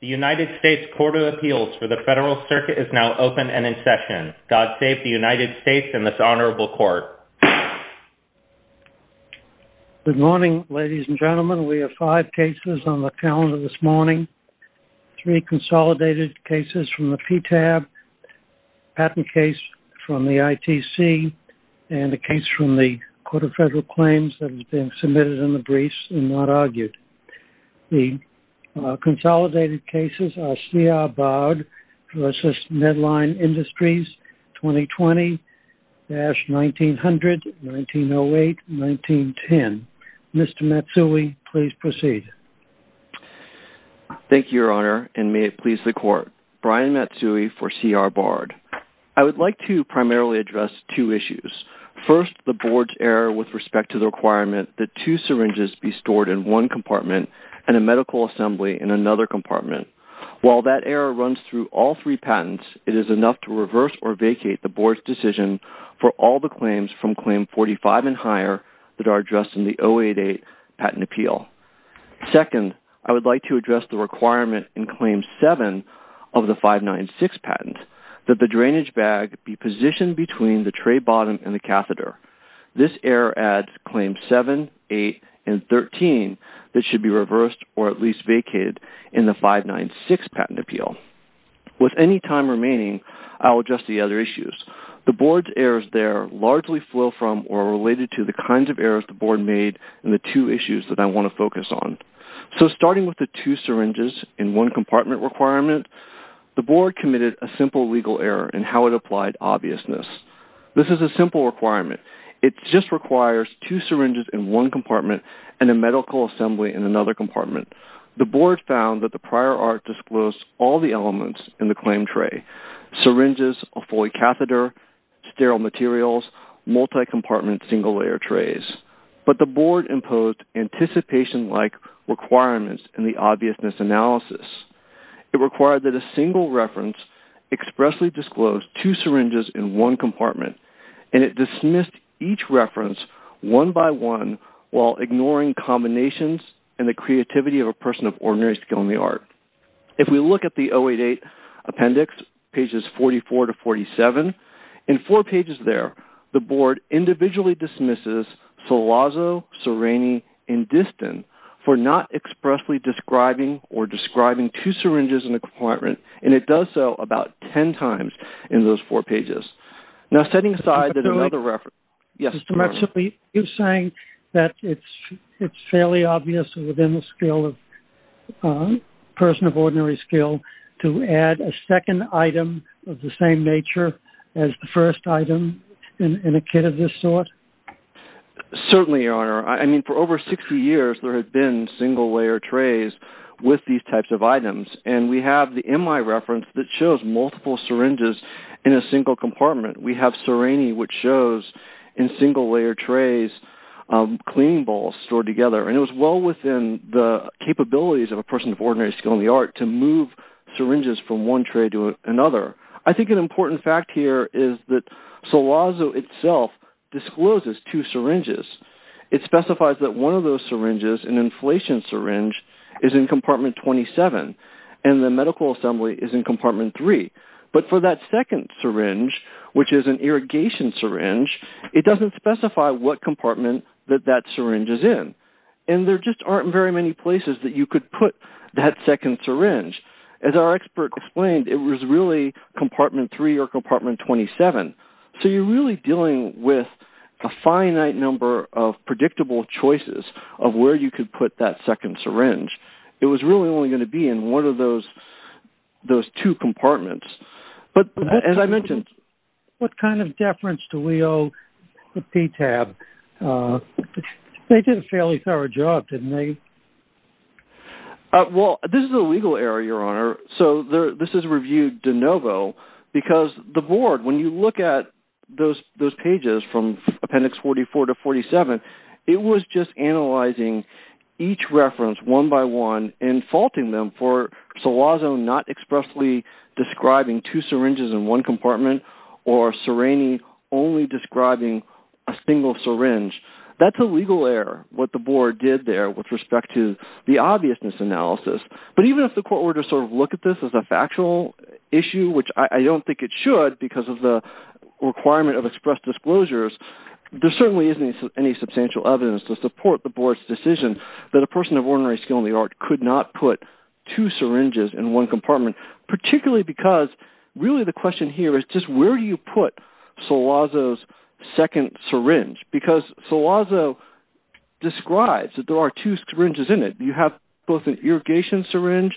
The United States Court of Appeals for the Federal Circuit is now open and in session. God save the United States and this honorable court. Good morning, ladies and gentlemen. We have five cases on the calendar this morning. Three consolidated cases from the PTAB, a patent case from the ITC, and a case from the Court of Federal Claims that has been submitted in the briefs and not argued. The consolidated cases are C.R. Bard v. Medline Industries, 2020-1900, 1908, 1910. Mr. Matsui, please proceed. Thank you, Your Honor, and may it please the Court. Brian Matsui for C.R. Bard. I would like to primarily address two issues. First, the Board's error with respect to the requirement that two syringes be stored in one compartment and a medical assembly in another compartment. While that error runs through all three patents, it is enough to reverse or vacate the Board's decision for all the claims from Claim 45 and higher that are addressed in the 088 patent appeal. Second, I would like to address the requirement in Claim 7 of the 596 patent that the drainage bag be positioned between the tray bottom and the catheter. This error adds Claim 7, 8, and 13 that should be reversed or at least vacated in the 596 patent appeal. With any time remaining, I will address the other issues. The Board's errors there largely flow from or are related to the kinds of errors the Board made and the two issues that I want to focus on. So starting with the two syringes in one compartment requirement, the Board committed a simple legal error in how it applied obviousness. This is a simple requirement. It just requires two syringes in one compartment and a medical assembly in another compartment. The Board found that the prior art disclosed all the elements in the claim tray, syringes, a Foley catheter, sterile materials, multi-compartment single-layer trays. But the Board imposed anticipation-like requirements in the obviousness analysis. It required that a single reference expressly disclose two syringes in one compartment and it dismissed each reference one by one while ignoring combinations and the creativity of a person of ordinary skill in the art. If we look at the 088 appendix, pages 44 to 47, in four pages there, the Board individually dismisses Salazzo, Serrani, and Distin for not expressly describing or describing two syringes in a compartment, and it does so about ten times in those four pages. Now setting aside that another reference- Mr. Metcalfe, you're saying that it's fairly obvious within the skill of a person of ordinary skill to add a second item of the same nature as the first item in a kit of this sort? Certainly, Your Honor. I mean, for over 60 years there have been single-layer trays with these types of items, and we have the MI reference that shows multiple syringes in a single compartment. We have Serrani, which shows in single-layer trays cleaning bowls stored together, and it was well within the capabilities of a person of ordinary skill in the art to move syringes from one tray to another. I think an important fact here is that Salazzo itself discloses two syringes. It specifies that one of those syringes, an inflation syringe, is in compartment 27, and the medical assembly is in compartment 3. But for that second syringe, which is an irrigation syringe, it doesn't specify what compartment that that syringe is in, and there just aren't very many places that you could put that second syringe. As our expert explained, it was really compartment 3 or compartment 27. So you're really dealing with a finite number of predictable choices of where you could put that second syringe. It was really only going to be in one of those two compartments. But as I mentioned... What kind of deference do we owe to PTAB? They did a fairly thorough job, didn't they? Well, this is a legal error, Your Honor, so this is reviewed de novo because the board, when you look at those pages from Appendix 44 to 47, it was just analyzing each reference one by one and faulting them for Salazzo not expressly describing two syringes in one compartment or Serrini only describing a single syringe. That's a legal error, what the board did there with respect to the obviousness analysis. But even if the court were to sort of look at this as a factual issue, which I don't think it should because of the requirement of expressed disclosures, there certainly isn't any substantial evidence to support the board's decision that a person of ordinary skill in the art could not put two syringes in one compartment, particularly because really the question here is just where do you put Salazzo's second syringe? Because Salazzo describes that there are two syringes in it. You have both an irrigation syringe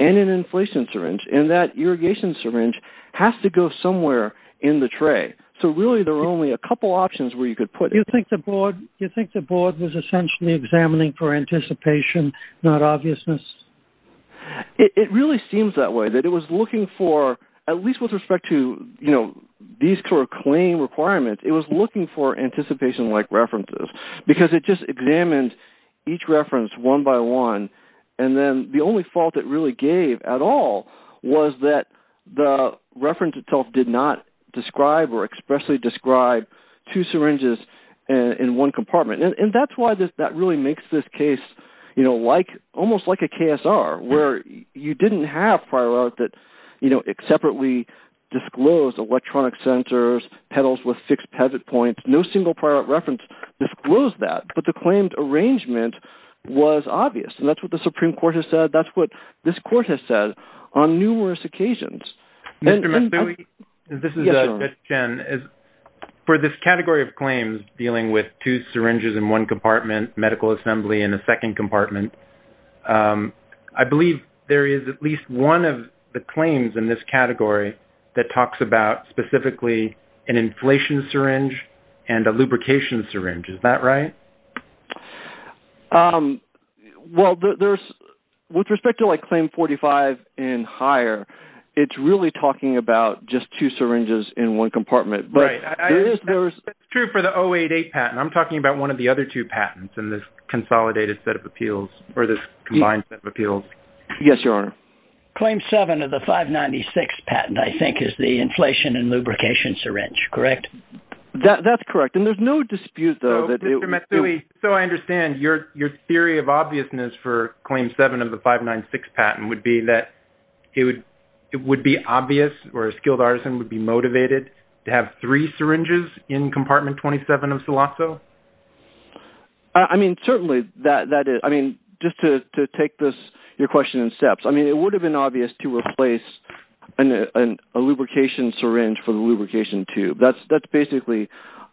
and an inflation syringe, and that irrigation syringe has to go somewhere in the tray. So really there are only a couple options where you could put it. Do you think the board was essentially examining for anticipation, not obviousness? It really seems that way, that it was looking for, at least with respect to these court claim requirements, it was looking for anticipation-like references because it just examined each reference one by one, and then the only fault it really gave at all was that the reference itself did not describe or expressly describe two syringes in one compartment. And that's why that really makes this case almost like a KSR, where you didn't have prior art that separately disclosed electronic sensors, pedals with six pezit points, no single prior art reference disclosed that. But the claimed arrangement was obvious, and that's what the Supreme Court has said. That's what this court has said on numerous occasions. Mr. McLeary, this is Chris Chen. For this category of claims dealing with two syringes in one compartment, medical assembly in a second compartment, I believe there is at least one of the claims in this category that talks about specifically an inflation syringe and a lubrication syringe. Is that right? Well, with respect to, like, Claim 45 and higher, it's really talking about just two syringes in one compartment. Right. It's true for the 088 patent. I'm talking about one of the other two patents in this consolidated set of appeals, or this combined set of appeals. Yes, Your Honor. Claim 7 of the 596 patent, I think, is the inflation and lubrication syringe. Correct? That's correct. And there's no dispute, though. Mr. Matsui, so I understand. Your theory of obviousness for Claim 7 of the 596 patent would be that it would be obvious or a skilled artisan would be motivated to have three syringes in Compartment 27 of SOLASO? I mean, certainly that is. I mean, just to take your question in steps, I mean, it would have been obvious to replace a lubrication syringe for the lubrication tube. That's basically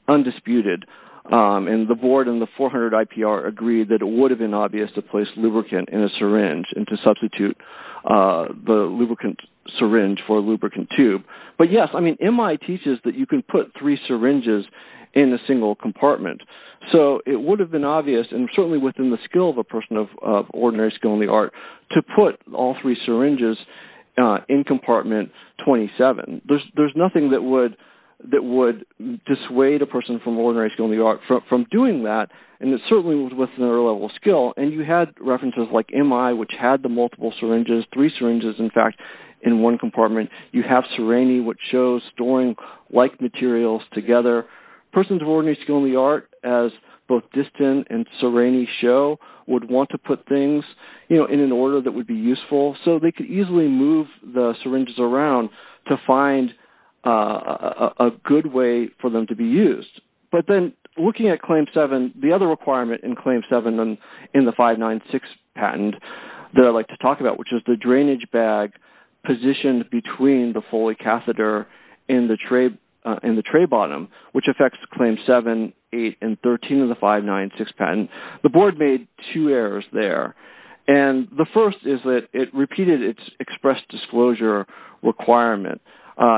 undisputed. And the board and the 400 IPR agreed that it would have been obvious to place lubricant in a syringe and to substitute the lubricant syringe for a lubricant tube. But, yes, I mean, MI teaches that you can put three syringes in a single compartment. So it would have been obvious, and certainly within the skill of a person of ordinary skill in the art, to put all three syringes in Compartment 27. There's nothing that would dissuade a person from ordinary skill in the art from doing that, and it certainly was within their level of skill. And you had references like MI, which had the multiple syringes, three syringes, in fact, in one compartment. You have Sereny, which shows storing like materials together. Persons of ordinary skill in the art, as both Distin and Sereny show, would want to put things, you know, in an order that would be useful so they could easily move the syringes around to find a good way for them to be used. But then looking at Claim 7, the other requirement in Claim 7 in the 596 patent that I'd like to talk about, which is the drainage bag positioned between the Foley catheter and the tray bottom, which affects Claim 7, 8, and 13 of the 596 patent, the board made two errors there. And the first is that it repeated its express disclosure requirement.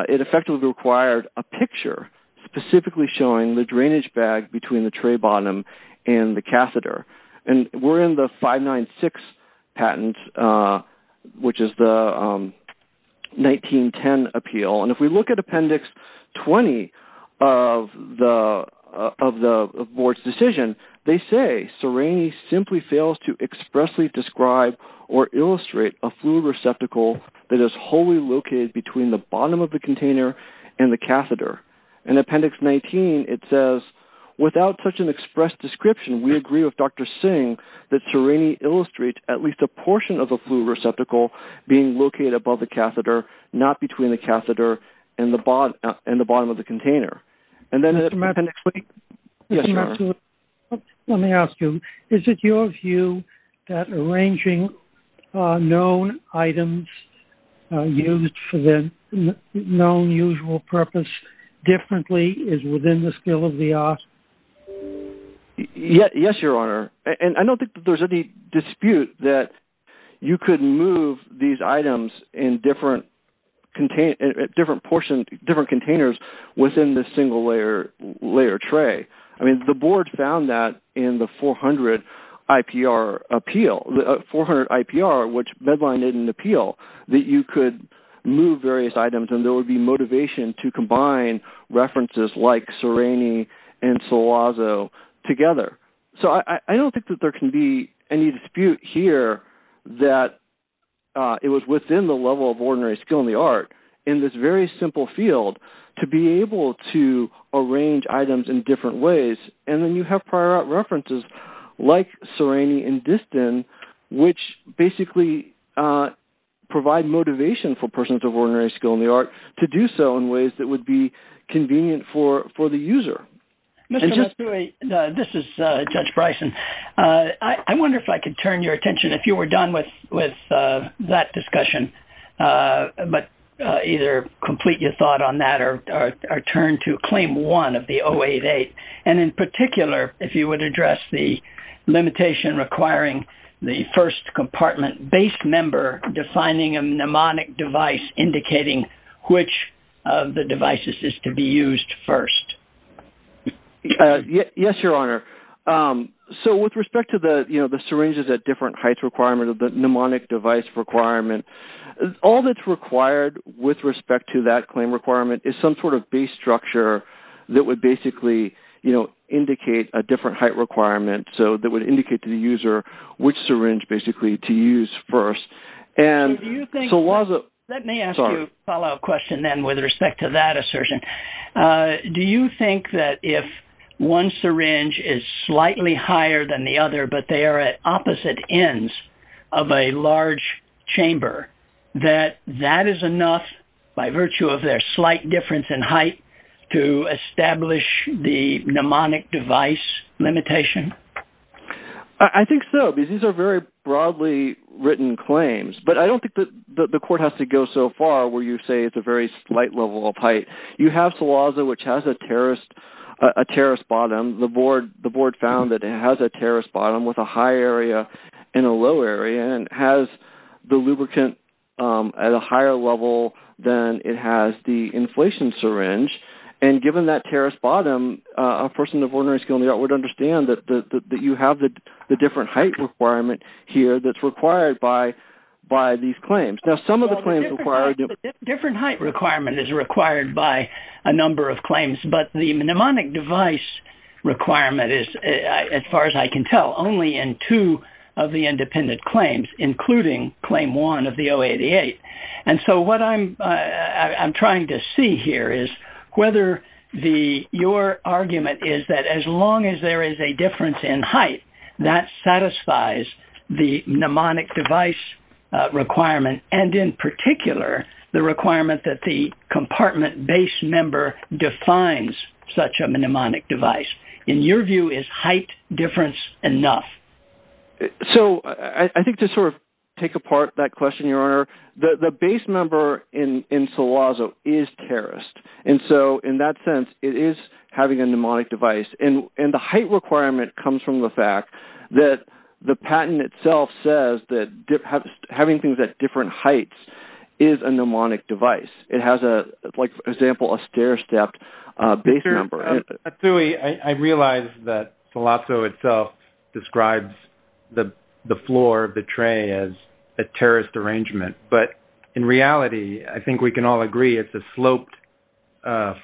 It effectively required a picture specifically showing the drainage bag between the tray bottom and the catheter. And we're in the 596 patent, which is the 1910 appeal. And if we look at Appendix 20 of the board's decision, they say, Sereny simply fails to expressly describe or illustrate a fluid receptacle that is wholly located between the bottom of the container and the catheter. In Appendix 19, it says, without such an expressed description, we agree with Dr. Singh that Sereny illustrates at least a portion of the fluid receptacle being located above the catheter, not between the catheter and the bottom of the container. And then in Appendix 20... Yes, Your Honor. And I don't think there's any dispute that you could move these items in different containers within the single-layer tray. I mean, the board found that in the 400 IPR appeal, the 400 IPR, which bedlined it in appeal, that you could move various items and there would be motivation to combine references like Sereny and Sulazo together. So I don't think that there can be any dispute here that it was within the level of ordinary skill in the art, in this very simple field, to be able to arrange items in different ways. And then you have prior art references like Sereny and Distin, which basically provide motivation for persons of ordinary skill in the art to do so in ways that would be convenient for the user. Mr. Masturi, this is Judge Bryson. I wonder if I could turn your attention, if you were done with that discussion, but either complete your thought on that or turn to Claim 1 of the 088. And in particular, if you would address the limitation requiring the first compartment base member defining a mnemonic device indicating which of the devices is to be used first. Yes, Your Honor. So with respect to the syringes at different heights requirement of the mnemonic device requirement, all that's required with respect to that claim requirement is some sort of base structure that would basically, you know, indicate a different height requirement. So that would indicate to the user which syringe basically to use first. Let me ask you a follow-up question then with respect to that assertion. Do you think that if one syringe is slightly higher than the other, but they are at opposite ends of a large chamber, that that is enough by virtue of their slight difference in height to establish the mnemonic device limitation? I think so, because these are very broadly written claims. But I don't think that the court has to go so far where you say it's a very slight level of height. You have Salaza, which has a terrace bottom. The board found that it has a terrace bottom with a high area and a low area and has the lubricant at a higher level than it has the inflation syringe. And given that terrace bottom, a person of ordinary skill would understand that you have the different height requirement here that's required by these claims. Now, some of the claims require different height. Different height requirement is required by a number of claims, but the mnemonic device requirement is, as far as I can tell, only in two of the independent claims, including claim one of the 088. And so what I'm trying to see here is whether your argument is that as long as there is a difference in height, that satisfies the mnemonic device requirement, and in particular the requirement that the compartment base member defines such a mnemonic device. In your view, is height difference enough? So I think to sort of take apart that question, Your Honor, the base member in Salaza is terraced. And so in that sense, it is having a mnemonic device. And the height requirement comes from the fact that the patent itself says that having things at different heights is a mnemonic device. It has, like, for example, a stair-stepped base member. Atzui, I realize that Salaza itself describes the floor of the tray as a terraced arrangement. But in reality, I think we can all agree it's a sloped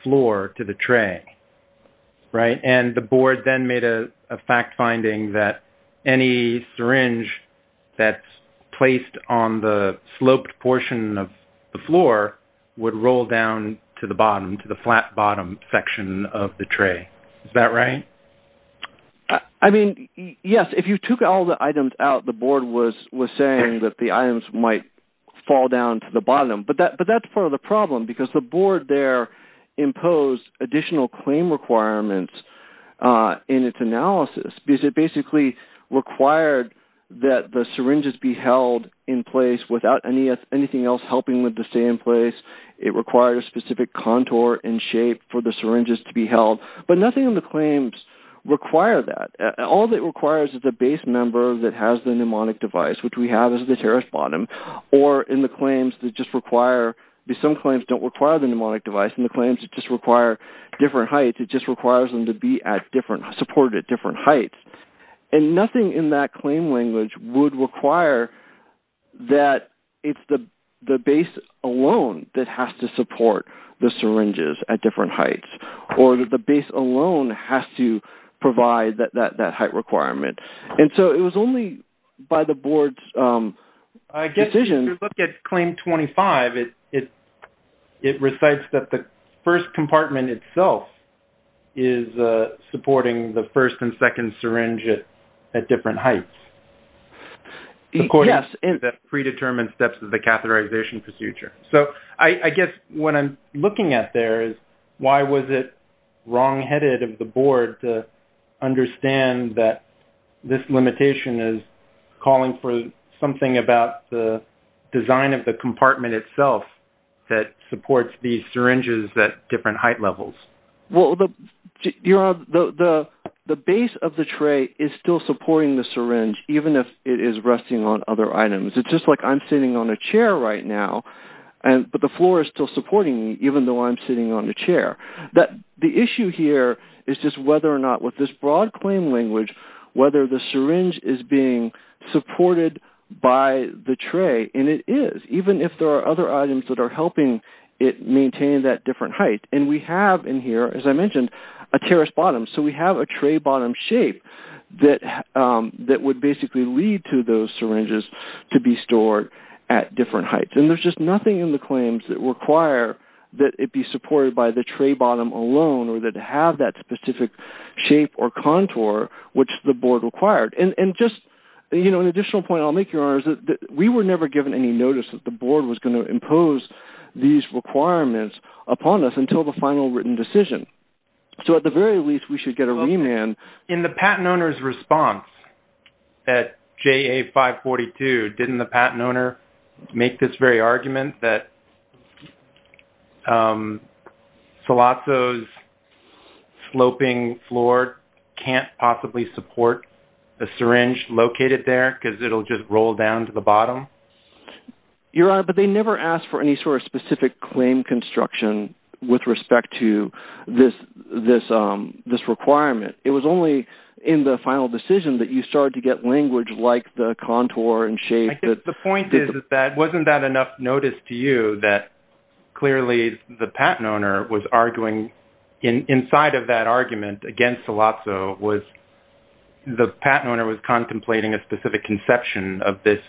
floor to the tray, right? And the board then made a fact finding that any syringe that's placed on the sloped portion of the floor would roll down to the bottom, to the flat bottom section of the tray. Is that right? I mean, yes. If you took all the items out, the board was saying that the items might fall down to the bottom. But that's part of the problem because the board there imposed additional claim requirements in its analysis because it basically required that the syringes be held in place without anything else helping them to stay in place. It required a specific contour and shape for the syringes to be held. But nothing in the claims required that. All that it requires is the base member that has the mnemonic device, which we have as the terraced bottom, or in the claims that just require because some claims don't require the mnemonic device. In the claims, it just requires different heights. It just requires them to be supported at different heights. And nothing in that claim language would require that it's the base alone that has to support the syringes at different heights or that the base alone has to provide that height requirement. And so it was only by the board's decision. I guess if you look at claim 25, it recites that the first compartment itself is supporting the first and second syringe at different heights according to the predetermined steps of the catheterization procedure. So I guess what I'm looking at there is why was it wrongheaded of the board to understand that this limitation is calling for something about the design of the compartment itself that supports these syringes at different height levels? Well, the base of the tray is still supporting the syringe, even if it is resting on other items. It's just like I'm sitting on a chair right now, but the floor is still supporting me, even though I'm sitting on the chair. The issue here is just whether or not with this broad claim language, whether the syringe is being supported by the tray. And it is, even if there are other items that are helping it maintain that different height. And we have in here, as I mentioned, a terrace bottom. So we have a tray bottom shape that would basically lead to those syringes to be stored at different heights. And there's just nothing in the claims that require that it be supported by the tray bottom alone or that have that specific shape or contour, which the board required. And just, you know, an additional point I'll make, Your Honors, is that we were never given any notice that the board was going to impose these requirements upon us until the final written decision. So at the very least, we should get a remand. In the patent owner's response at JA 542, didn't the patent owner make this very argument that Sollozzo's sloping floor can't possibly support the syringe located there because it'll just roll down to the bottom? Your Honor, but they never asked for any sort of specific claim construction with respect to this requirement. It was only in the final decision that you started to get language like the contour and shape. The point is that wasn't that enough notice to you that clearly the patent owner was arguing inside of that argument against Sollozzo was the patent owner was contemplating a specific conception of this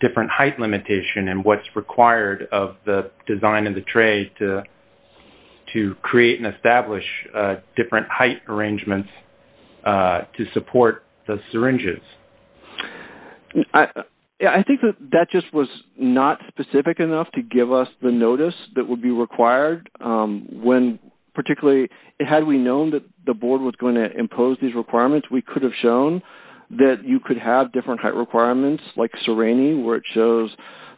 different height limitation and what's required of the design of the tray to create and establish different height arrangements to support the syringes? I think that just was not specific enough to give us the notice that would be required, particularly had we known that the board was going to impose these requirements, we could have shown that you could have different requirements like syringing, where it shows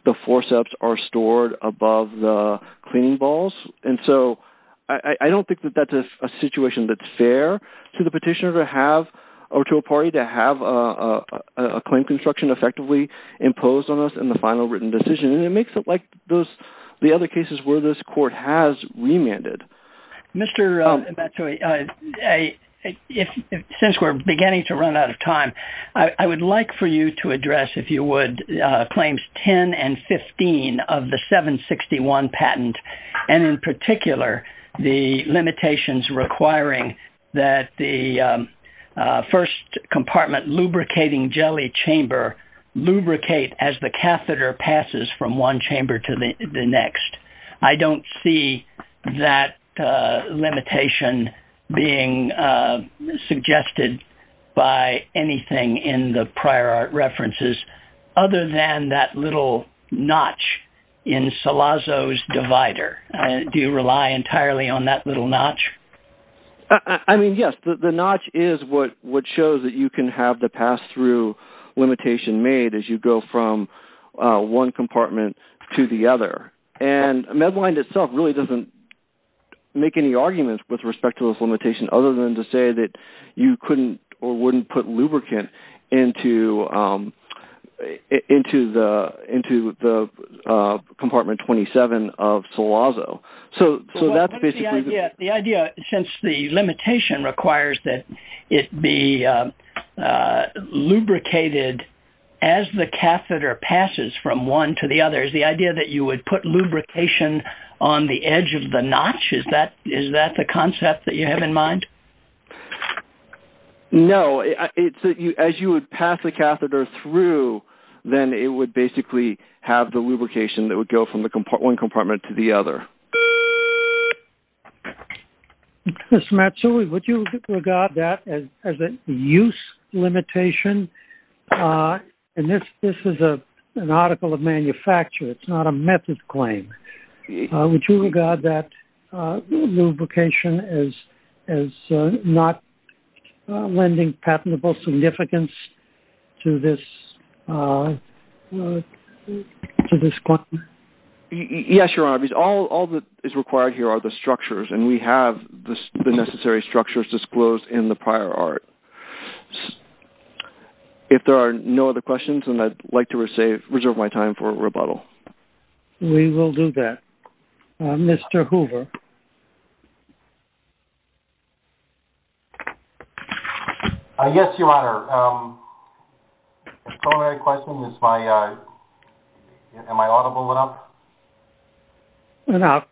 the forceps are stored above the cleaning balls. And so I don't think that that's a situation that's fair to the petitioner to have or to a party to have a claim construction effectively imposed on us in the final written decision. And it makes it like those the other cases where this court has remanded. Since we're beginning to run out of time, I would like for you to address, if you would, claims 10 and 15 of the 761 patent and in particular, the limitations requiring that the first compartment lubricating jelly chamber or lubricate as the catheter passes from one chamber to the next. I don't see that limitation being suggested by anything in the prior references, other than that little notch in Salazzo's divider. Do you rely entirely on that little notch? I mean, yes, the notch is what shows that you can have the pass-through limitation made as you go from one compartment to the other. And Medline itself really doesn't make any arguments with respect to this limitation, other than to say that you couldn't or wouldn't put lubricant into the compartment 27 of Salazzo. The idea, since the limitation requires that it be lubricated as the catheter passes from one to the other, is the idea that you would put lubrication on the edge of the notch, is that the concept that you have in mind? No, as you would pass the catheter through, then it would basically have the lubrication that would go from one compartment to the other. Mr. Matsui, would you regard that as a use limitation? And this is an article of manufacture, it's not a method claim. Would you regard that lubrication as not lending patentable significance to this claim? Yes, Your Honor. All that is required here are the structures, and we have the necessary structures disclosed in the prior art. If there are no other questions, then I'd like to reserve my time for rebuttal. We will do that. Mr. Hoover. Yes, Your Honor. If there are no other questions, am I audible enough? Enough.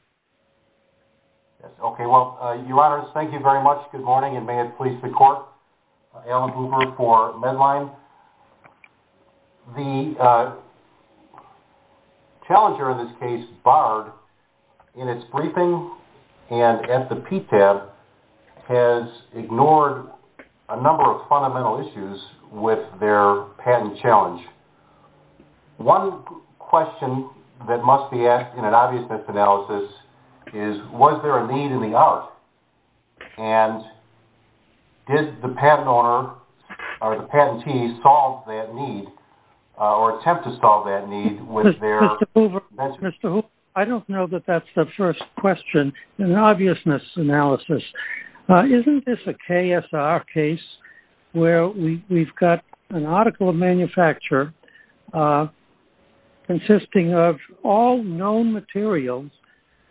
Okay, well, Your Honors, thank you very much. Good morning, and may it please the Court. Alan Hoover for Medline. Challenger, in this case Bard, in its briefing and at the PTAB, has ignored a number of fundamental issues with their patent challenge. One question that must be asked in an obviousness analysis is, was there a need in the art? And did the patent owner or the patentee solve that need, or attempt to solve that need with their… Mr. Hoover, I don't know that that's the first question in an obviousness analysis. Isn't this a KSR case where we've got an article of manufacture consisting of all known materials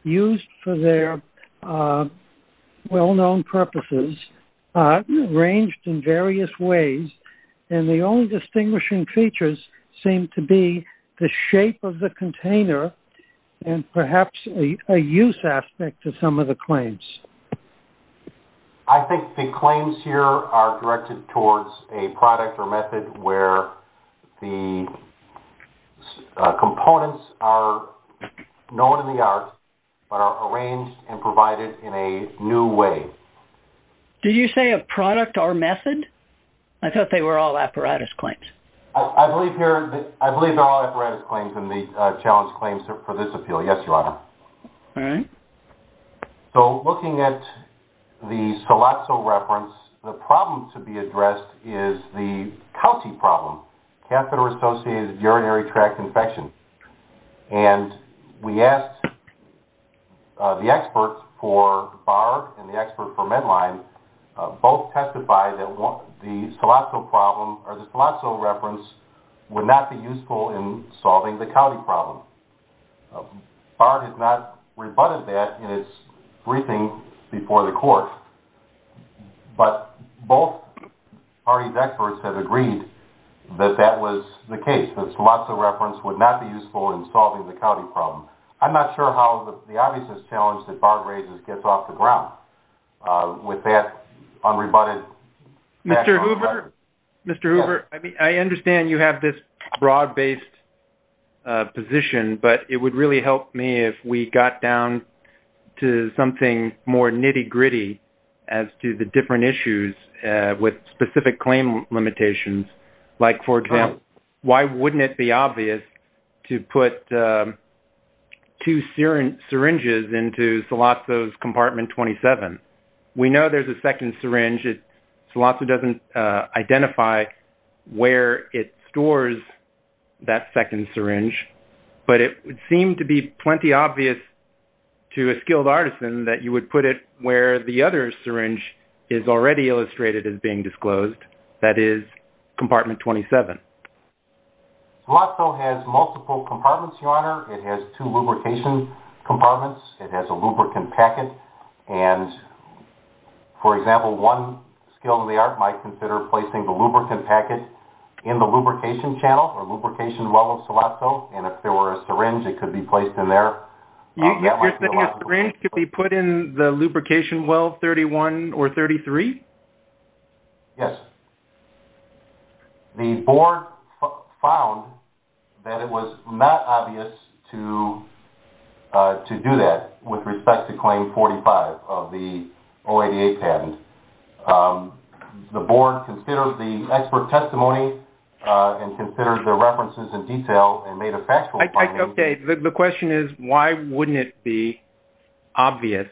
used for their well-known purposes, arranged in various ways, and the only distinguishing features seem to be the shape of the container and perhaps a use aspect of some of the claims? I think the claims here are directed towards a product or method where the components are known in the art, but are arranged and provided in a new way. Did you say a product or method? I thought they were all apparatus claims. I believe they're all apparatus claims in the challenge claims for this appeal. Yes, Your Honor. All right. So, looking at the Scalazzo reference, the problem to be addressed is the county problem, catheter-associated urinary tract infection. And we asked the experts for Bard and the expert for Medline both testified that the Scalazzo reference would not be useful in solving the county problem. Bard has not rebutted that in its briefing before the court, but both party experts have agreed that that was the case, that Scalazzo reference would not be useful in solving the county problem. I'm not sure how the obviousness challenge that Bard raises gets off the ground with that unrebutted... Mr. Hoover, Mr. Hoover, I understand you have this broad-based position, but it would really help me if we got down to something more nitty-gritty as to the different issues with specific claim limitations. Like, for example, why wouldn't it be obvious to put two syringes into Scalazzo's compartment 27? We know there's a second syringe. Scalazzo doesn't identify where it stores that second syringe, but it would seem to be plenty obvious to a skilled artisan that you would put it where the other syringe is already illustrated as being disclosed, that is, compartment 27. Scalazzo has multiple compartments, Your Honor. It has two lubrication compartments. It has a lubricant packet. For example, one skilled art might consider placing the lubricant packet in the lubrication channel or lubrication well of Scalazzo, and if there were a syringe, it could be placed in there. You're saying a syringe could be put in the lubrication well 31 or 33? Yes. The board found that it was not obvious to do that with respect to Claim 45 of the OADA patent. The board considered the expert testimony and considered the references in detail and made a factual finding. Okay. The question is why wouldn't it be obvious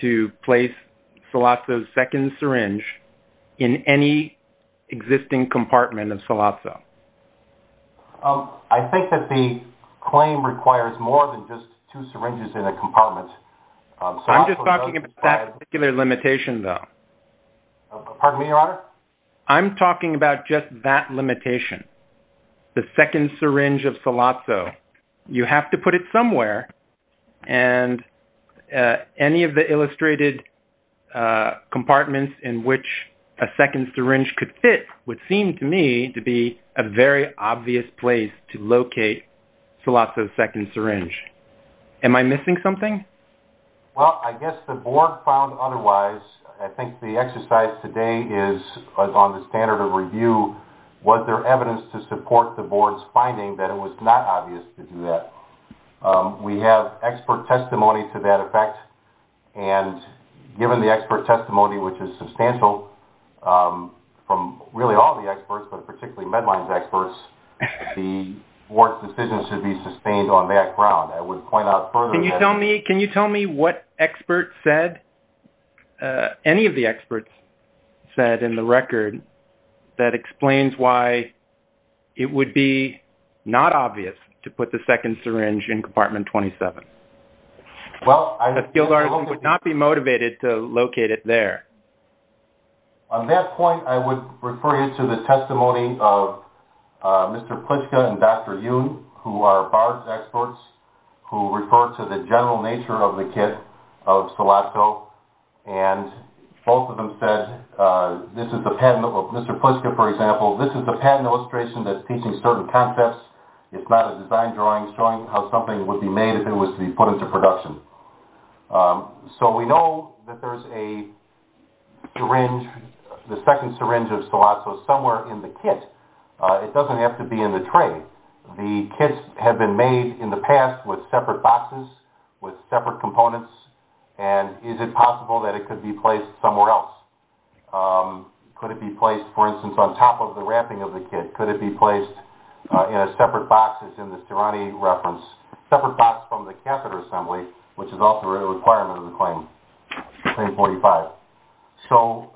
to place Scalazzo's second syringe in any existing compartment of Scalazzo? I think that the claim requires more than just two syringes in a compartment. I'm just talking about that particular limitation, though. Pardon me, Your Honor? I'm talking about just that limitation, the second syringe of Scalazzo. You have to put it somewhere, and any of the illustrated compartments in which a second syringe could fit would seem to me to be a very obvious place to locate Scalazzo's second syringe. Am I missing something? Well, I guess the board found otherwise. I think the exercise today is on the standard of review. Was there evidence to support the board's finding that it was not obvious to do that? No. We have expert testimony to that effect, and given the expert testimony, which is substantial from really all the experts, but particularly Medline's experts, the board's decision should be sustained on that ground. I would point out further that... Can you tell me what experts said? Any of the experts said in the record that explains why it would be not obvious to put the second syringe in compartment 27. Well, I... A skilled artist would not be motivated to locate it there. On that point, I would refer you to the testimony of Mr. Plitschke and Dr. Yoon, who are bars experts who refer to the general nature of the kit of Scalazzo, and both of them said... Mr. Plitschke, for example, this is a patent illustration that's teaching certain concepts. It's not a design drawing showing how something would be made if it was to be put into production. So we know that there's a syringe, the second syringe of Scalazzo somewhere in the kit. It doesn't have to be in the tray. The kits have been made in the past with separate boxes, with separate components, and is it possible that it could be placed somewhere else? Could it be placed, for instance, on top of the wrapping of the kit? Could it be placed in a separate box, as in the Stirani reference? Separate box from the catheter assembly, which is also a requirement of the claim, Claim 45. So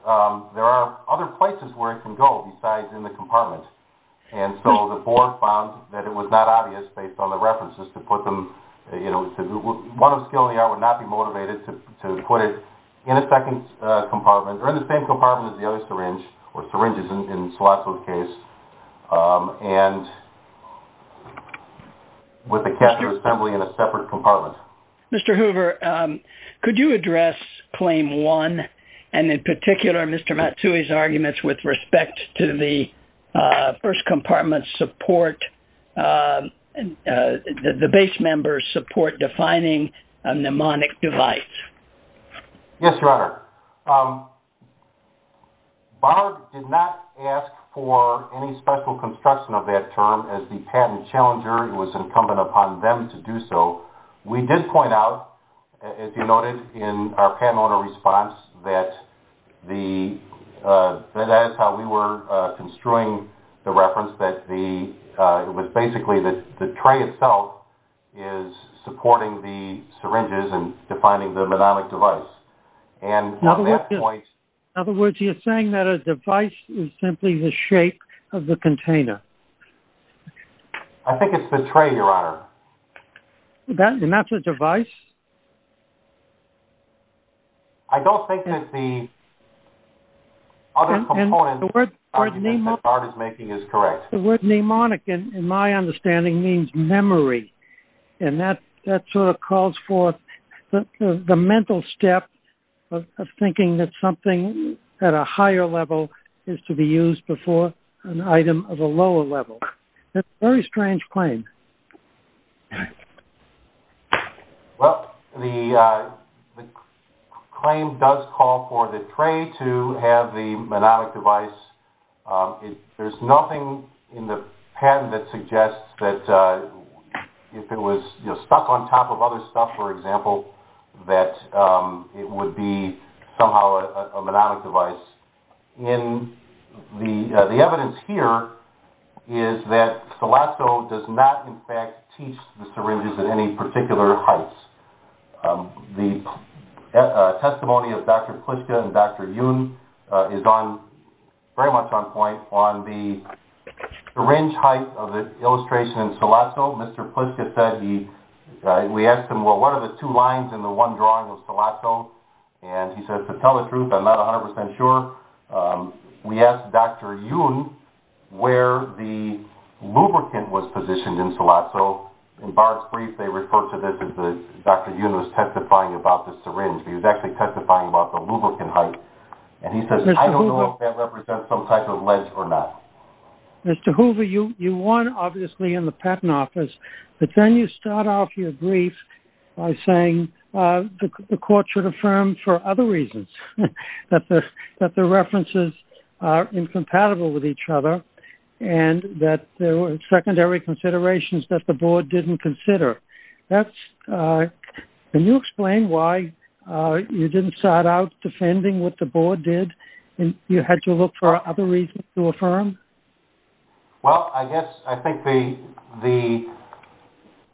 there are other places where it can go besides in the compartment. And so the board found that it was not obvious, based on the references, to put them... One of Scalazzo and the other would not be motivated to put it in a second compartment, or in the same compartment as the other syringe, or syringes in Scalazzo's case, and with the catheter assembly in a separate compartment. Mr. Hoover, could you address Claim 1, and in particular Mr. Matsui's arguments with respect to the first compartment support, that the base members support defining a mnemonic device? Yes, Your Honor. BARB did not ask for any special construction of that term. As the patent challenger, it was incumbent upon them to do so. We did point out, as you noted in our patent owner response, that that is how we were construing the reference, was basically that the tray itself is supporting the syringes and defining the mnemonic device. In other words, you're saying that a device is simply the shape of the container. I think it's the tray, Your Honor. And that's a device? I don't think that the other component... The argument that BARB is making is correct. The word mnemonic, in my understanding, means memory, and that sort of calls for the mental step of thinking that something at a higher level is to be used before an item of a lower level. That's a very strange claim. Well, the claim does call for the tray to have the mnemonic device. There's nothing in the patent that suggests that if it was stuck on top of other stuff, for example, that it would be somehow a mnemonic device. The evidence here is that Celasco does not, in fact, teach the syringes at any particular heights. The testimony of Dr. Pliska and Dr. Yoon is very much on point on the syringe height of the illustration in Celasco. Mr. Pliska said he... We asked him, well, what are the two lines in the one drawing of Celasco? And he said, to tell the truth, I'm not 100% sure. We asked Dr. Yoon where the lubricant was positioned in Celasco. In Barr's brief, they refer to this as Dr. Yoon was testifying about the syringe. He was actually testifying about the lubricant height. And he says, I don't know if that represents some type of ledge or not. Mr. Hoover, you won, obviously, in the patent office. But then you start off your brief by saying the court should affirm for other reasons that the references are incompatible with each other and that there were secondary considerations that the board didn't consider. That's... Can you explain why you didn't start out defending what the board did? You had to look for other reasons to affirm? Well, I guess I think the...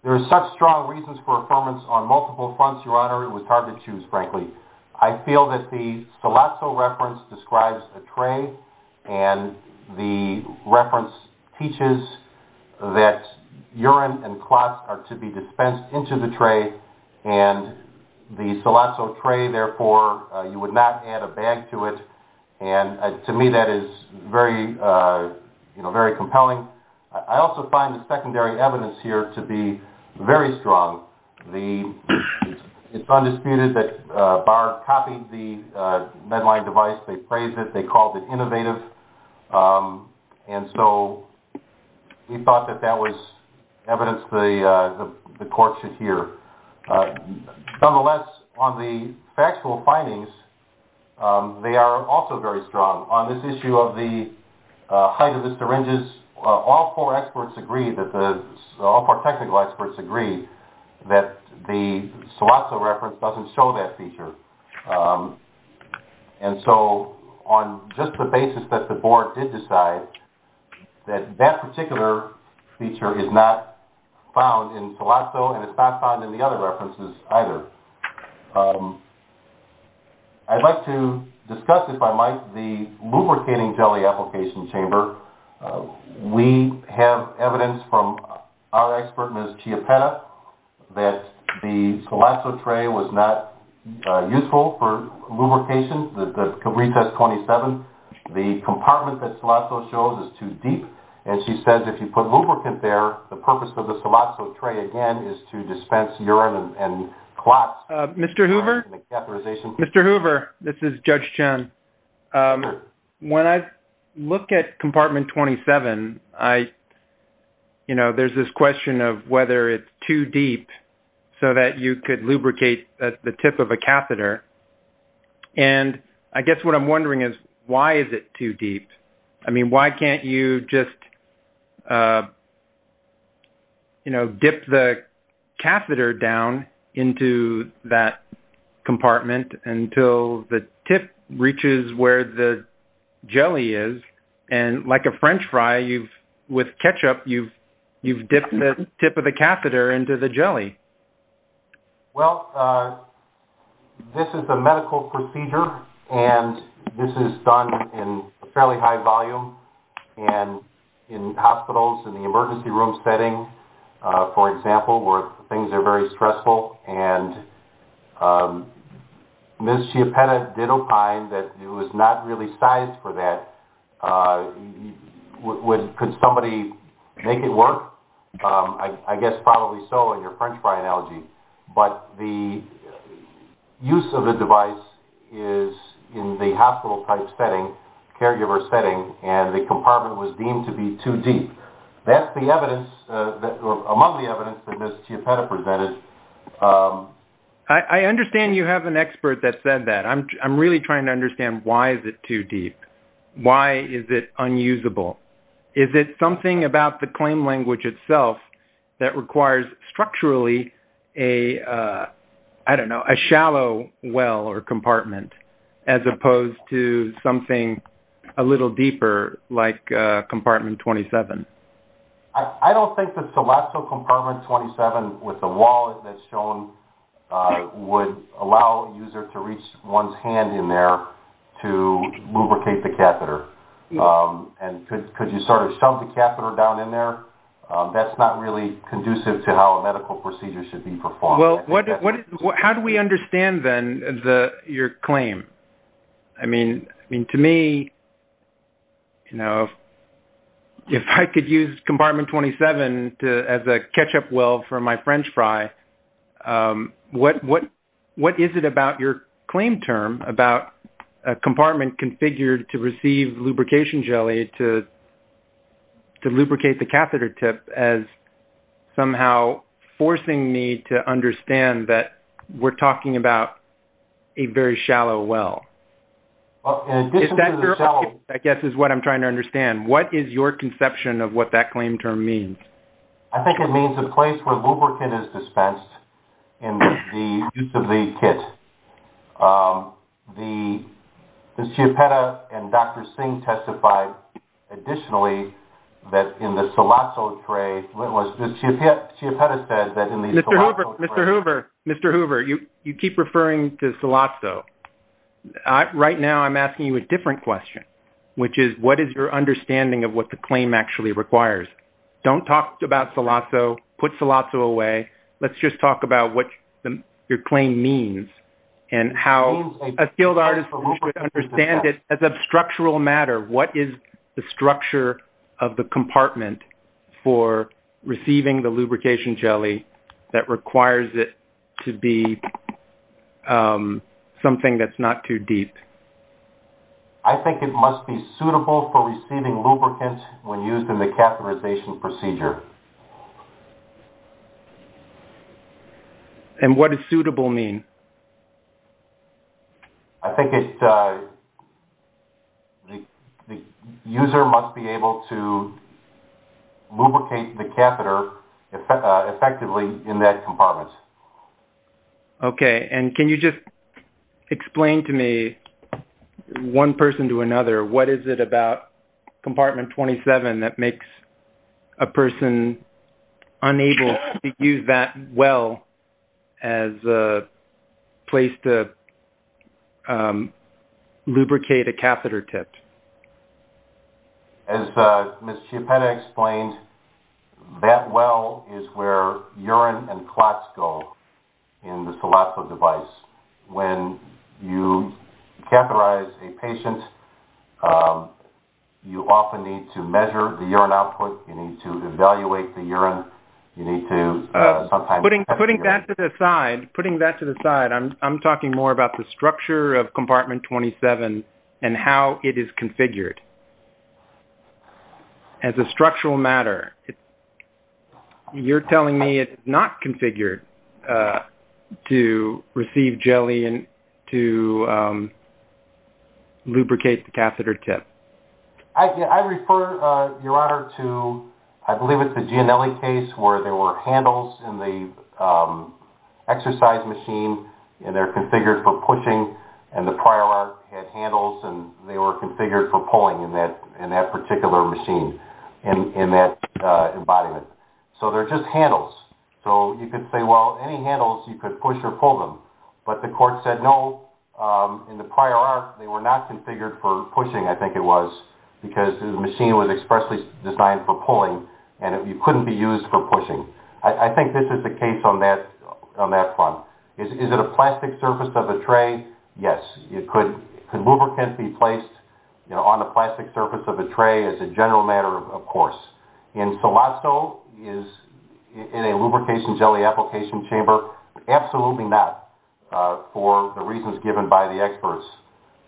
There are such strong reasons for affirmance on multiple fronts, Your Honor, it was hard to choose, frankly. I feel that the Celasco reference describes the tray and the reference teaches that urine and clots are to be dispensed into the tray and the Celasco tray, therefore, you would not add a bag to it. And to me, that is very compelling. I also find the secondary evidence here to be very strong. It's undisputed that Barr copied the Medline device. They praised it. They called it innovative. And so we thought that that was evidence the court should hear. Nonetheless, on the factual findings, they are also very strong. On this issue of the height of the syringes, all four experts agree, all four technical experts agree that the Celasco reference doesn't show that feature. And so on just the basis that the board did decide that that particular feature is not found in Celasco and it's not found in the other references either. I'd like to discuss, if I might, the lubricating jelly application chamber. We have evidence from our expert, Ms. Chiapetta, that the Celasco tray was not useful for lubrication, the retest 27. The compartment that Celasco shows is too deep. And she says if you put lubricant there, the purpose of the Celasco tray, again, is to dispense urine and clots. Mr. Hoover? Mr. Hoover, this is Judge Chen. When I look at compartment 27, you know, there's this question of whether it's too deep so that you could lubricate the tip of a catheter. And I guess what I'm wondering is why is it too deep? I mean, why can't you just, you know, dip the catheter down into that compartment until the tip reaches where the jelly is? And like a French fry, with ketchup, you've dipped the tip of the catheter into the jelly. Well, this is the medical procedure, and this is done in fairly high volume. And in hospitals, in the emergency room setting, for example, where things are very stressful, and Ms. Chiapetta did opine that it was not really sized for that. Could somebody make it work? I guess probably so in your French fry analogy. But the use of the device is in the hospital-type setting, caregiver setting, and the compartment was deemed to be too deep. That's the evidence, among the evidence that Ms. Chiapetta presented. I understand you have an expert that said that. I'm really trying to understand why is it too deep. Why is it unusable? Is it something about the claim language itself that requires structurally a, I don't know, a shallow well or compartment, as opposed to something a little deeper like Compartment 27? I don't think that Celesto Compartment 27, with the wall that's shown, would allow a user to reach one's hand in there to lubricate the catheter. Could you sort of shove the catheter down in there? That's not really conducive to how a medical procedure should be performed. How do we understand, then, your claim? I mean, to me, if I could use Compartment 27 as a ketchup well for my French fry, what is it about your claim term, about a compartment configured to receive lubrication jelly to lubricate the catheter tip, as somehow forcing me to understand that we're talking about a very shallow well? In addition to the shallow... I guess that's what I'm trying to understand. What is your conception of what that claim term means? I think it means a place where lubricant is dispensed in the use of the kit. Ms. Chiapetta and Dr. Singh testified additionally that in the Celesto tray... Ms. Chiapetta said that in the Celesto tray... Mr. Hoover, you keep referring to Celesto. Right now, I'm asking you a different question, which is, what is your understanding of what the claim actually requires? Don't talk about Celesto. Put Celesto away. Let's just talk about what your claim means and how a skilled artist should understand it as a structural matter. What is the structure of the compartment for receiving the lubrication jelly that requires it to be something that's not too deep? I think it must be suitable for receiving lubricant when used in the catheterization procedure. And what does suitable mean? I think the user must be able to lubricate the catheter effectively in that compartment. Okay. And can you just explain to me, one person to another, what is it about Compartment 27 that makes a person unable to use that well as a place to lubricate a catheter tip? As Ms. Chiapetta explained, that well is where urine and clots go in the Celesto device. When you catheterize a patient, you often need to measure the urine output. You need to evaluate the urine. Putting that to the side, I'm talking more about the structure of Compartment 27 and how it is configured as a structural matter. You're telling me it's not configured to receive jelly and to lubricate the catheter tip. I refer, Your Honor, to I believe it's the Gianelli case where there were handles in the exercise machine, and they're configured for pushing, and the prior art had handles, and they were configured for pulling in that particular machine, in that embodiment. So they're just handles. So you could say, well, any handles, you could push or pull them. But the court said, no, in the prior art, they were not configured for pushing, I think it was, because the machine was expressly designed for pulling, and you couldn't be used for pushing. I think this is the case on that front. Is it a plastic surface of a tray? Yes. Could lubricant be placed on the plastic surface of a tray as a general matter? Of course. And Solasto is in a lubrication jelly application chamber? Absolutely not, for the reasons given by the experts,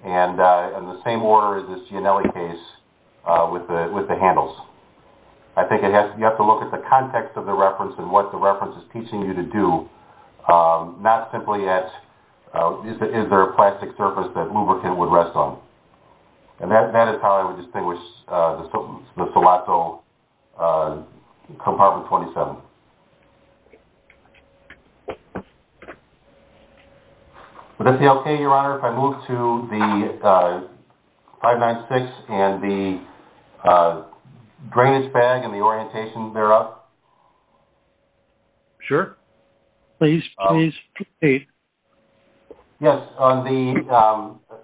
and in the same order as this Gianelli case with the handles. I think you have to look at the context of the reference and what the reference is teaching you to do, not simply at is there a plastic surface that lubricant would rest on. And that is how I would distinguish the Solasto Compartment 27. Would that be okay, Your Honor, if I move to the 596 and the drainage bag and the orientation thereof? Sure. Please proceed. Yes.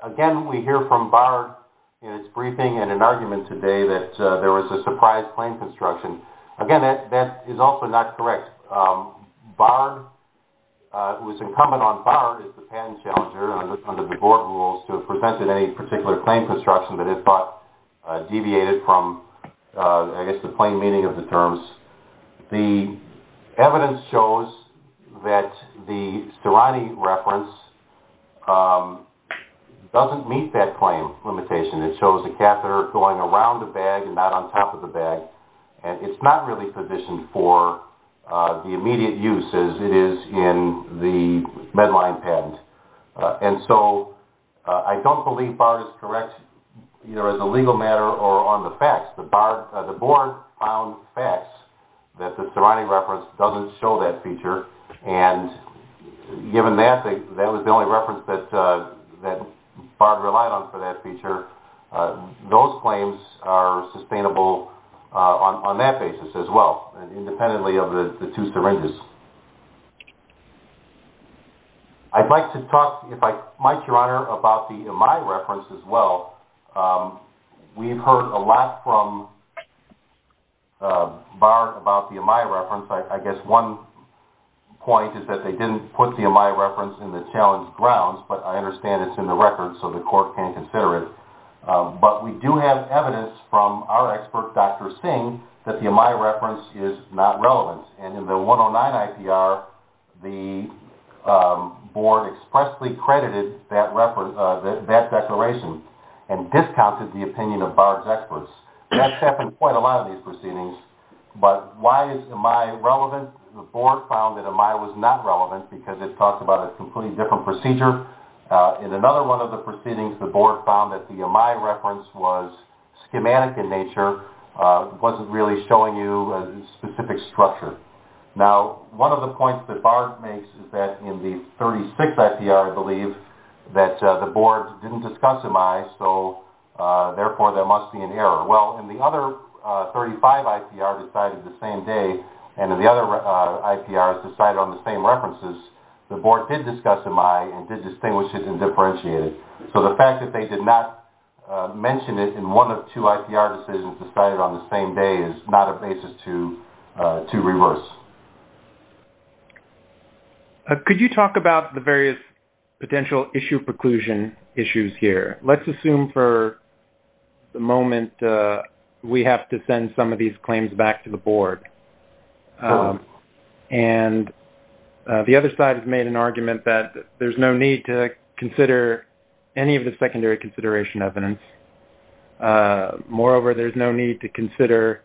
Again, we hear from Bard in his briefing in an argument today that there was a surprise plane construction. Again, that is also not correct. Bard, who is incumbent on Bard as the patent challenger, under the board rules, to have presented any particular plane construction that he thought deviated from, I guess, the plain meaning of the terms. The evidence shows that the Stirani reference doesn't meet that claim limitation. It shows a catheter going around the bag and not on top of the bag, and it's not really positioned for the immediate use, as it is in the Medline patent. And so I don't believe Bard is correct, either as a legal matter or on the facts. The board found facts that the Stirani reference doesn't show that feature. And given that, that was the only reference that Bard relied on for that feature. Those claims are sustainable on that basis as well, independently of the two syringes. I'd like to talk, Mike, Your Honor, about the Amai reference as well. We've heard a lot from Bard about the Amai reference. I guess one point is that they didn't put the Amai reference in the challenge grounds, but I understand it's in the record so the court can consider it. But we do have evidence from our expert, Dr. Singh, that the Amai reference is not relevant. And in the 109 IPR, the board expressly credited that declaration and discounted the opinion of Bard's experts. That's happened in quite a lot of these proceedings. But why is Amai relevant? In one of the proceedings, the board found that Amai was not relevant because it talked about a completely different procedure. In another one of the proceedings, the board found that the Amai reference was schematic in nature, wasn't really showing you a specific structure. Now, one of the points that Bard makes is that in the 36th IPR, I believe, that the board didn't discuss Amai, so therefore there must be an error. Well, in the other 35 IPR decided the same day, and in the other IPRs decided on the same references, the board did discuss Amai and did distinguish it and differentiate it. So the fact that they did not mention it in one of two IPR decisions decided on the same day is not a basis to reverse. Could you talk about the various potential issue preclusion issues here? Let's assume for the moment we have to send some of these claims back to the board. And the other side has made an argument that there's no need to consider any of the secondary consideration evidence. Moreover, there's no need to consider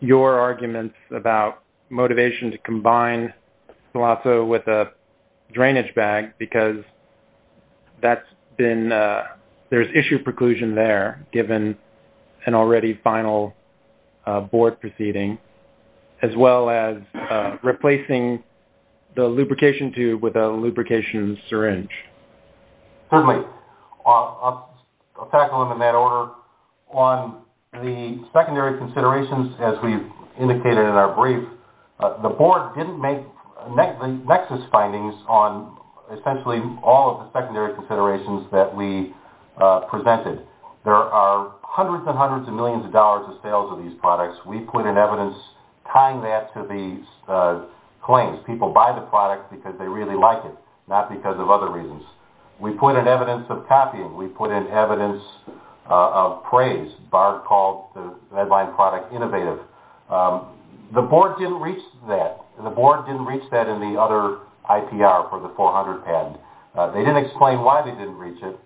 your arguments about motivation to combine SILASO with a drainage bag because there's issue preclusion there given an already final board proceeding, as well as replacing the lubrication tube with a lubrication syringe. Certainly. I'll tackle them in that order. On the secondary considerations, as we've indicated in our brief, the board didn't make nexus findings on essentially all of the secondary considerations that we presented. There are hundreds and hundreds of millions of dollars of sales of these products. We put in evidence tying that to the claims. People buy the product because they really like it, not because of other reasons. We put in evidence of copying. We put in evidence of praise. BARB called the Medline product innovative. The board didn't reach that. The board didn't reach that in the other IPR for the 400 patent. They didn't explain why they didn't reach it.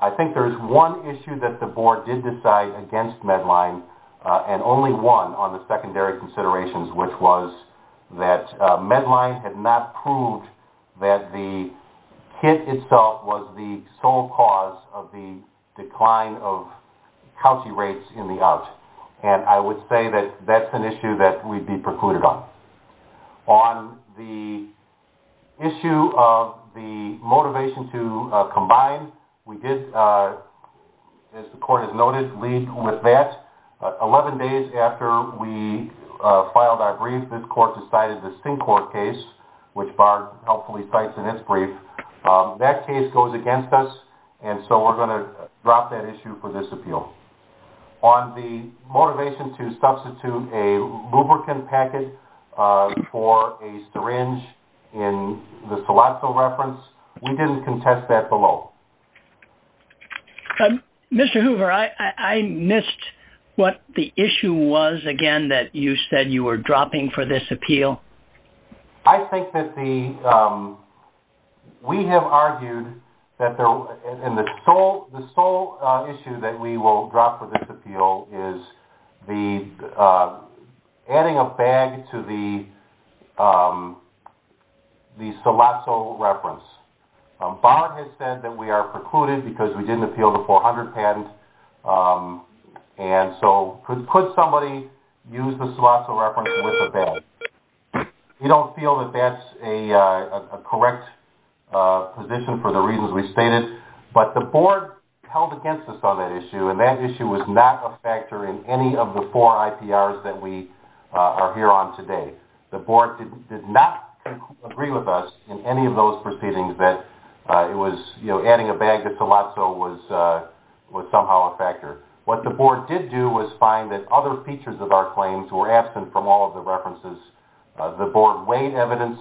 I think there's one issue that the board did decide against Medline, and only one on the secondary considerations, which was that Medline had not proved that the kit itself was the sole cause of the decline of county rates in the out. I would say that that's an issue that we'd be precluded on. On the issue of the motivation to combine, we did, as the court has noted, lead with that. Eleven days after we filed our brief, this court decided the Sting Court case, which Barb helpfully cites in its brief. That case goes against us, and so we're going to drop that issue for this appeal. On the motivation to substitute a lubricant packet for a syringe in the Salozzo reference, we didn't contest that below. Mr. Hoover, I missed what the issue was, again, that you said you were dropping for this appeal. I think that we have argued that the sole issue that we will drop for this appeal is the adding a bag to the Salozzo reference. Barb has said that we are precluded because we didn't appeal the 400 patent, and so could somebody use the Salozzo reference with a bag? We don't feel that that's a correct position for the reasons we stated, but the board held against us on that issue, and that issue was not a factor in any of the four IPRs that we are here on today. The board did not agree with us in any of those proceedings that adding a bag to Salozzo was somehow a factor. What the board did do was find that other features of our claims were absent from all of the references. The board weighed evidence,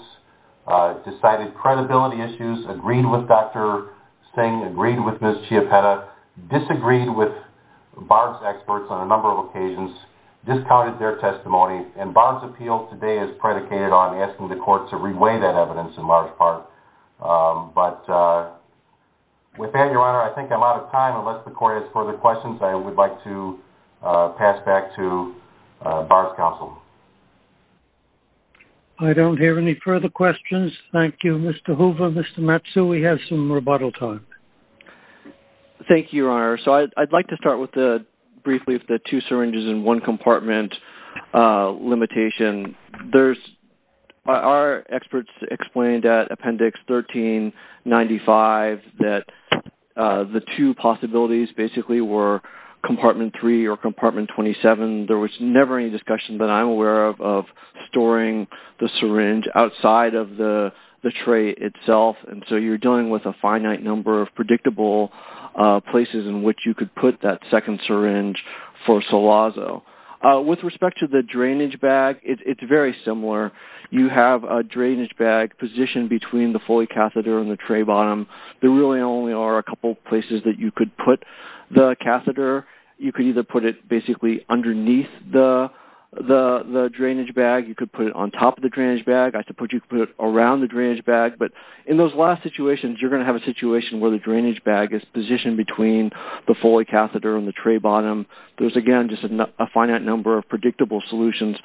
decided credibility issues, agreed with Dr. Sting, agreed with Ms. Chiapetta, disagreed with Barb's experts on a number of occasions, discounted their testimony, and Barb's appeal today is predicated on asking the court to reweigh that evidence in large part. But with that, Your Honor, I think I'm out of time. Unless the court has further questions, I would like to pass back to Barb's counsel. I don't hear any further questions. Thank you, Mr. Hoover. Mr. Matsu, we have some rebuttal time. Thank you, Your Honor. So I'd like to start briefly with the two syringes in one compartment limitation. Our experts explained at Appendix 1395 that the two possibilities basically were compartment 3 or compartment 27. There was never any discussion that I'm aware of of storing the syringe outside of the tray itself, and so you're dealing with a finite number of predictable places in which you could put that second syringe for Salazzo. With respect to the drainage bag, it's very similar. You have a drainage bag positioned between the Foley catheter and the tray bottom. There really only are a couple places that you could put the catheter. You could either put it basically underneath the drainage bag. You could put it on top of the drainage bag. I suppose you could put it around the drainage bag. But in those last situations, you're going to have a situation where the drainage bag is positioned between the Foley catheter and the tray bottom. There's, again, just a finite number of predictable solutions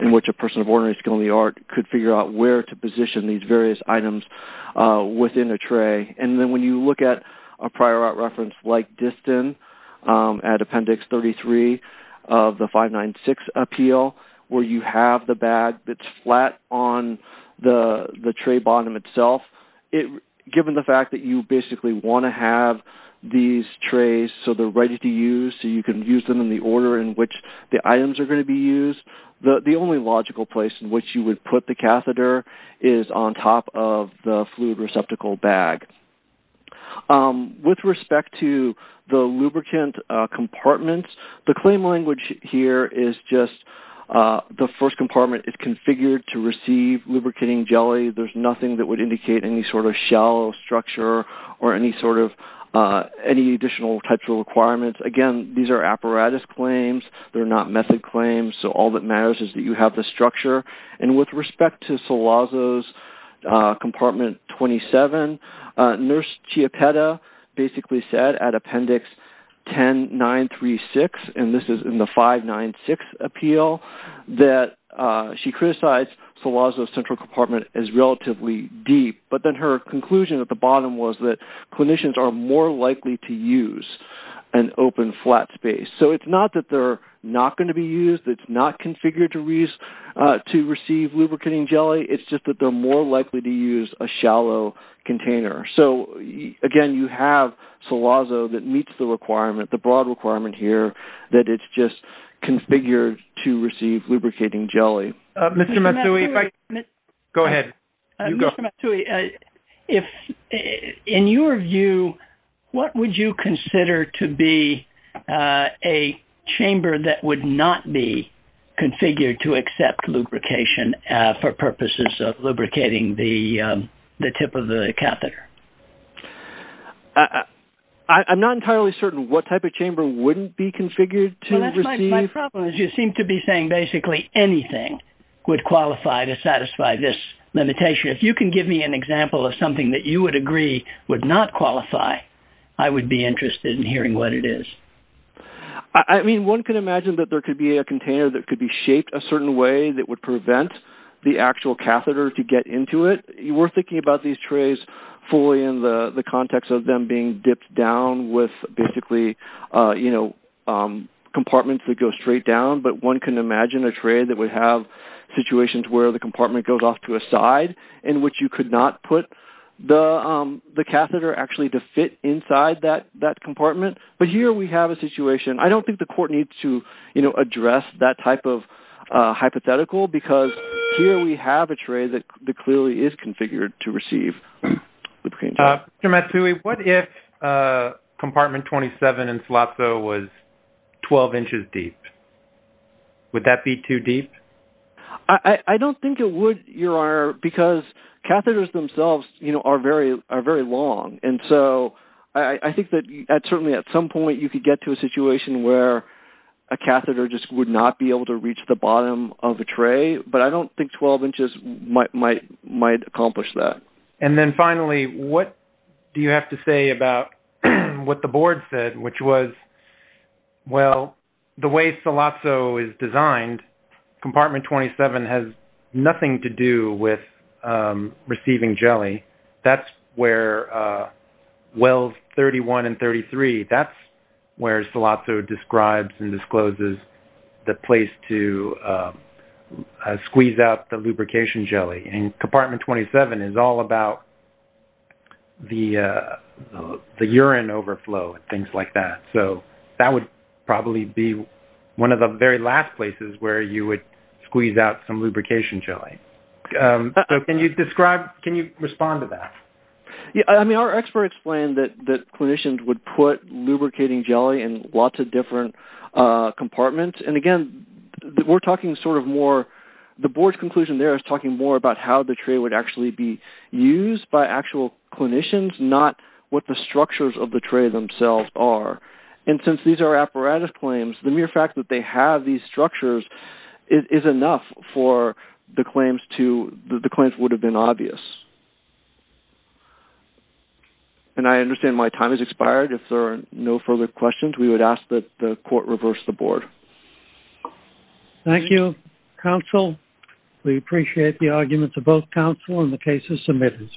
in which a person of ordinary skill and the art could figure out where to position these various items within a tray. And then when you look at a prior art reference like Distin at Appendix 33 of the 596 appeal where you have the bag that's flat on the tray bottom itself, given the fact that you basically want to have these trays so they're ready to use so you can use them in the order in which the items are going to be used, the only logical place in which you would put the catheter is on top of the fluid receptacle bag. With respect to the lubricant compartments, the claim language here is just the first compartment is configured to receive lubricating jelly. There's nothing that would indicate any sort of shallow structure or any sort of additional types of requirements. Again, these are apparatus claims. They're not method claims. So all that matters is that you have the structure. And with respect to Salazzo's compartment 27, Nurse Chiapetta basically said at Appendix 10936, and this is in the 596 appeal, that she criticized Salazzo's central compartment as relatively deep. But then her conclusion at the bottom was that clinicians are more likely to use an open flat space. So it's not that they're not going to be used. It's not configured to receive lubricating jelly. It's just that they're more likely to use a shallow container. So, again, you have Salazzo that meets the broad requirement here that it's just configured to receive lubricating jelly. Go ahead. Mr. Matsui, in your view, what would you consider to be a chamber that would not be configured to accept lubrication for purposes of lubricating the tip of the catheter? I'm not entirely certain what type of chamber wouldn't be configured to receive. My problem is you seem to be saying basically anything would qualify to satisfy this limitation. If you can give me an example of something that you would agree would not qualify, I would be interested in hearing what it is. I mean, one can imagine that there could be a container that could be shaped a certain way that would prevent the actual catheter to get into it. We're thinking about these trays fully in the context of them being dipped down with basically compartments that go straight down. But one can imagine a tray that would have situations where the compartment goes off to a side in which you could not put the catheter actually to fit inside that compartment. But here we have a situation. I don't think the court needs to address that type of hypothetical because here we have a tray that clearly is configured to receive lubricating jelly. Mr. Matsui, what if compartment 27 in SILASO was 12 inches deep? Would that be too deep? I don't think it would, Your Honor, because catheters themselves are very long. And so I think that certainly at some point you could get to a situation where a catheter just would not be able to reach the bottom of the tray. But I don't think 12 inches might accomplish that. And then finally, what do you have to say about what the board said, which was, well, the way SILASO is designed, compartment 27 has nothing to do with receiving jelly. That's where wells 31 and 33, that's where SILASO describes and discloses the place to squeeze out the lubrication jelly. And compartment 27 is all about the urine overflow and things like that. So that would probably be one of the very last places where you would squeeze out some lubrication jelly. So can you describe, can you respond to that? I mean, our expert explained that clinicians would put lubricating jelly in lots of different compartments. And, again, we're talking sort of more, the board's conclusion there is talking more about how the tray would actually be used by actual clinicians, not what the structures of the tray themselves are. And since these are apparatus claims, the mere fact that they have these structures is enough for the claims to, the claims would have been obvious. And I understand my time has expired. If there are no further questions, we would ask that the court reverse the board. Thank you, counsel. We appreciate the arguments of both counsel and the cases submitted.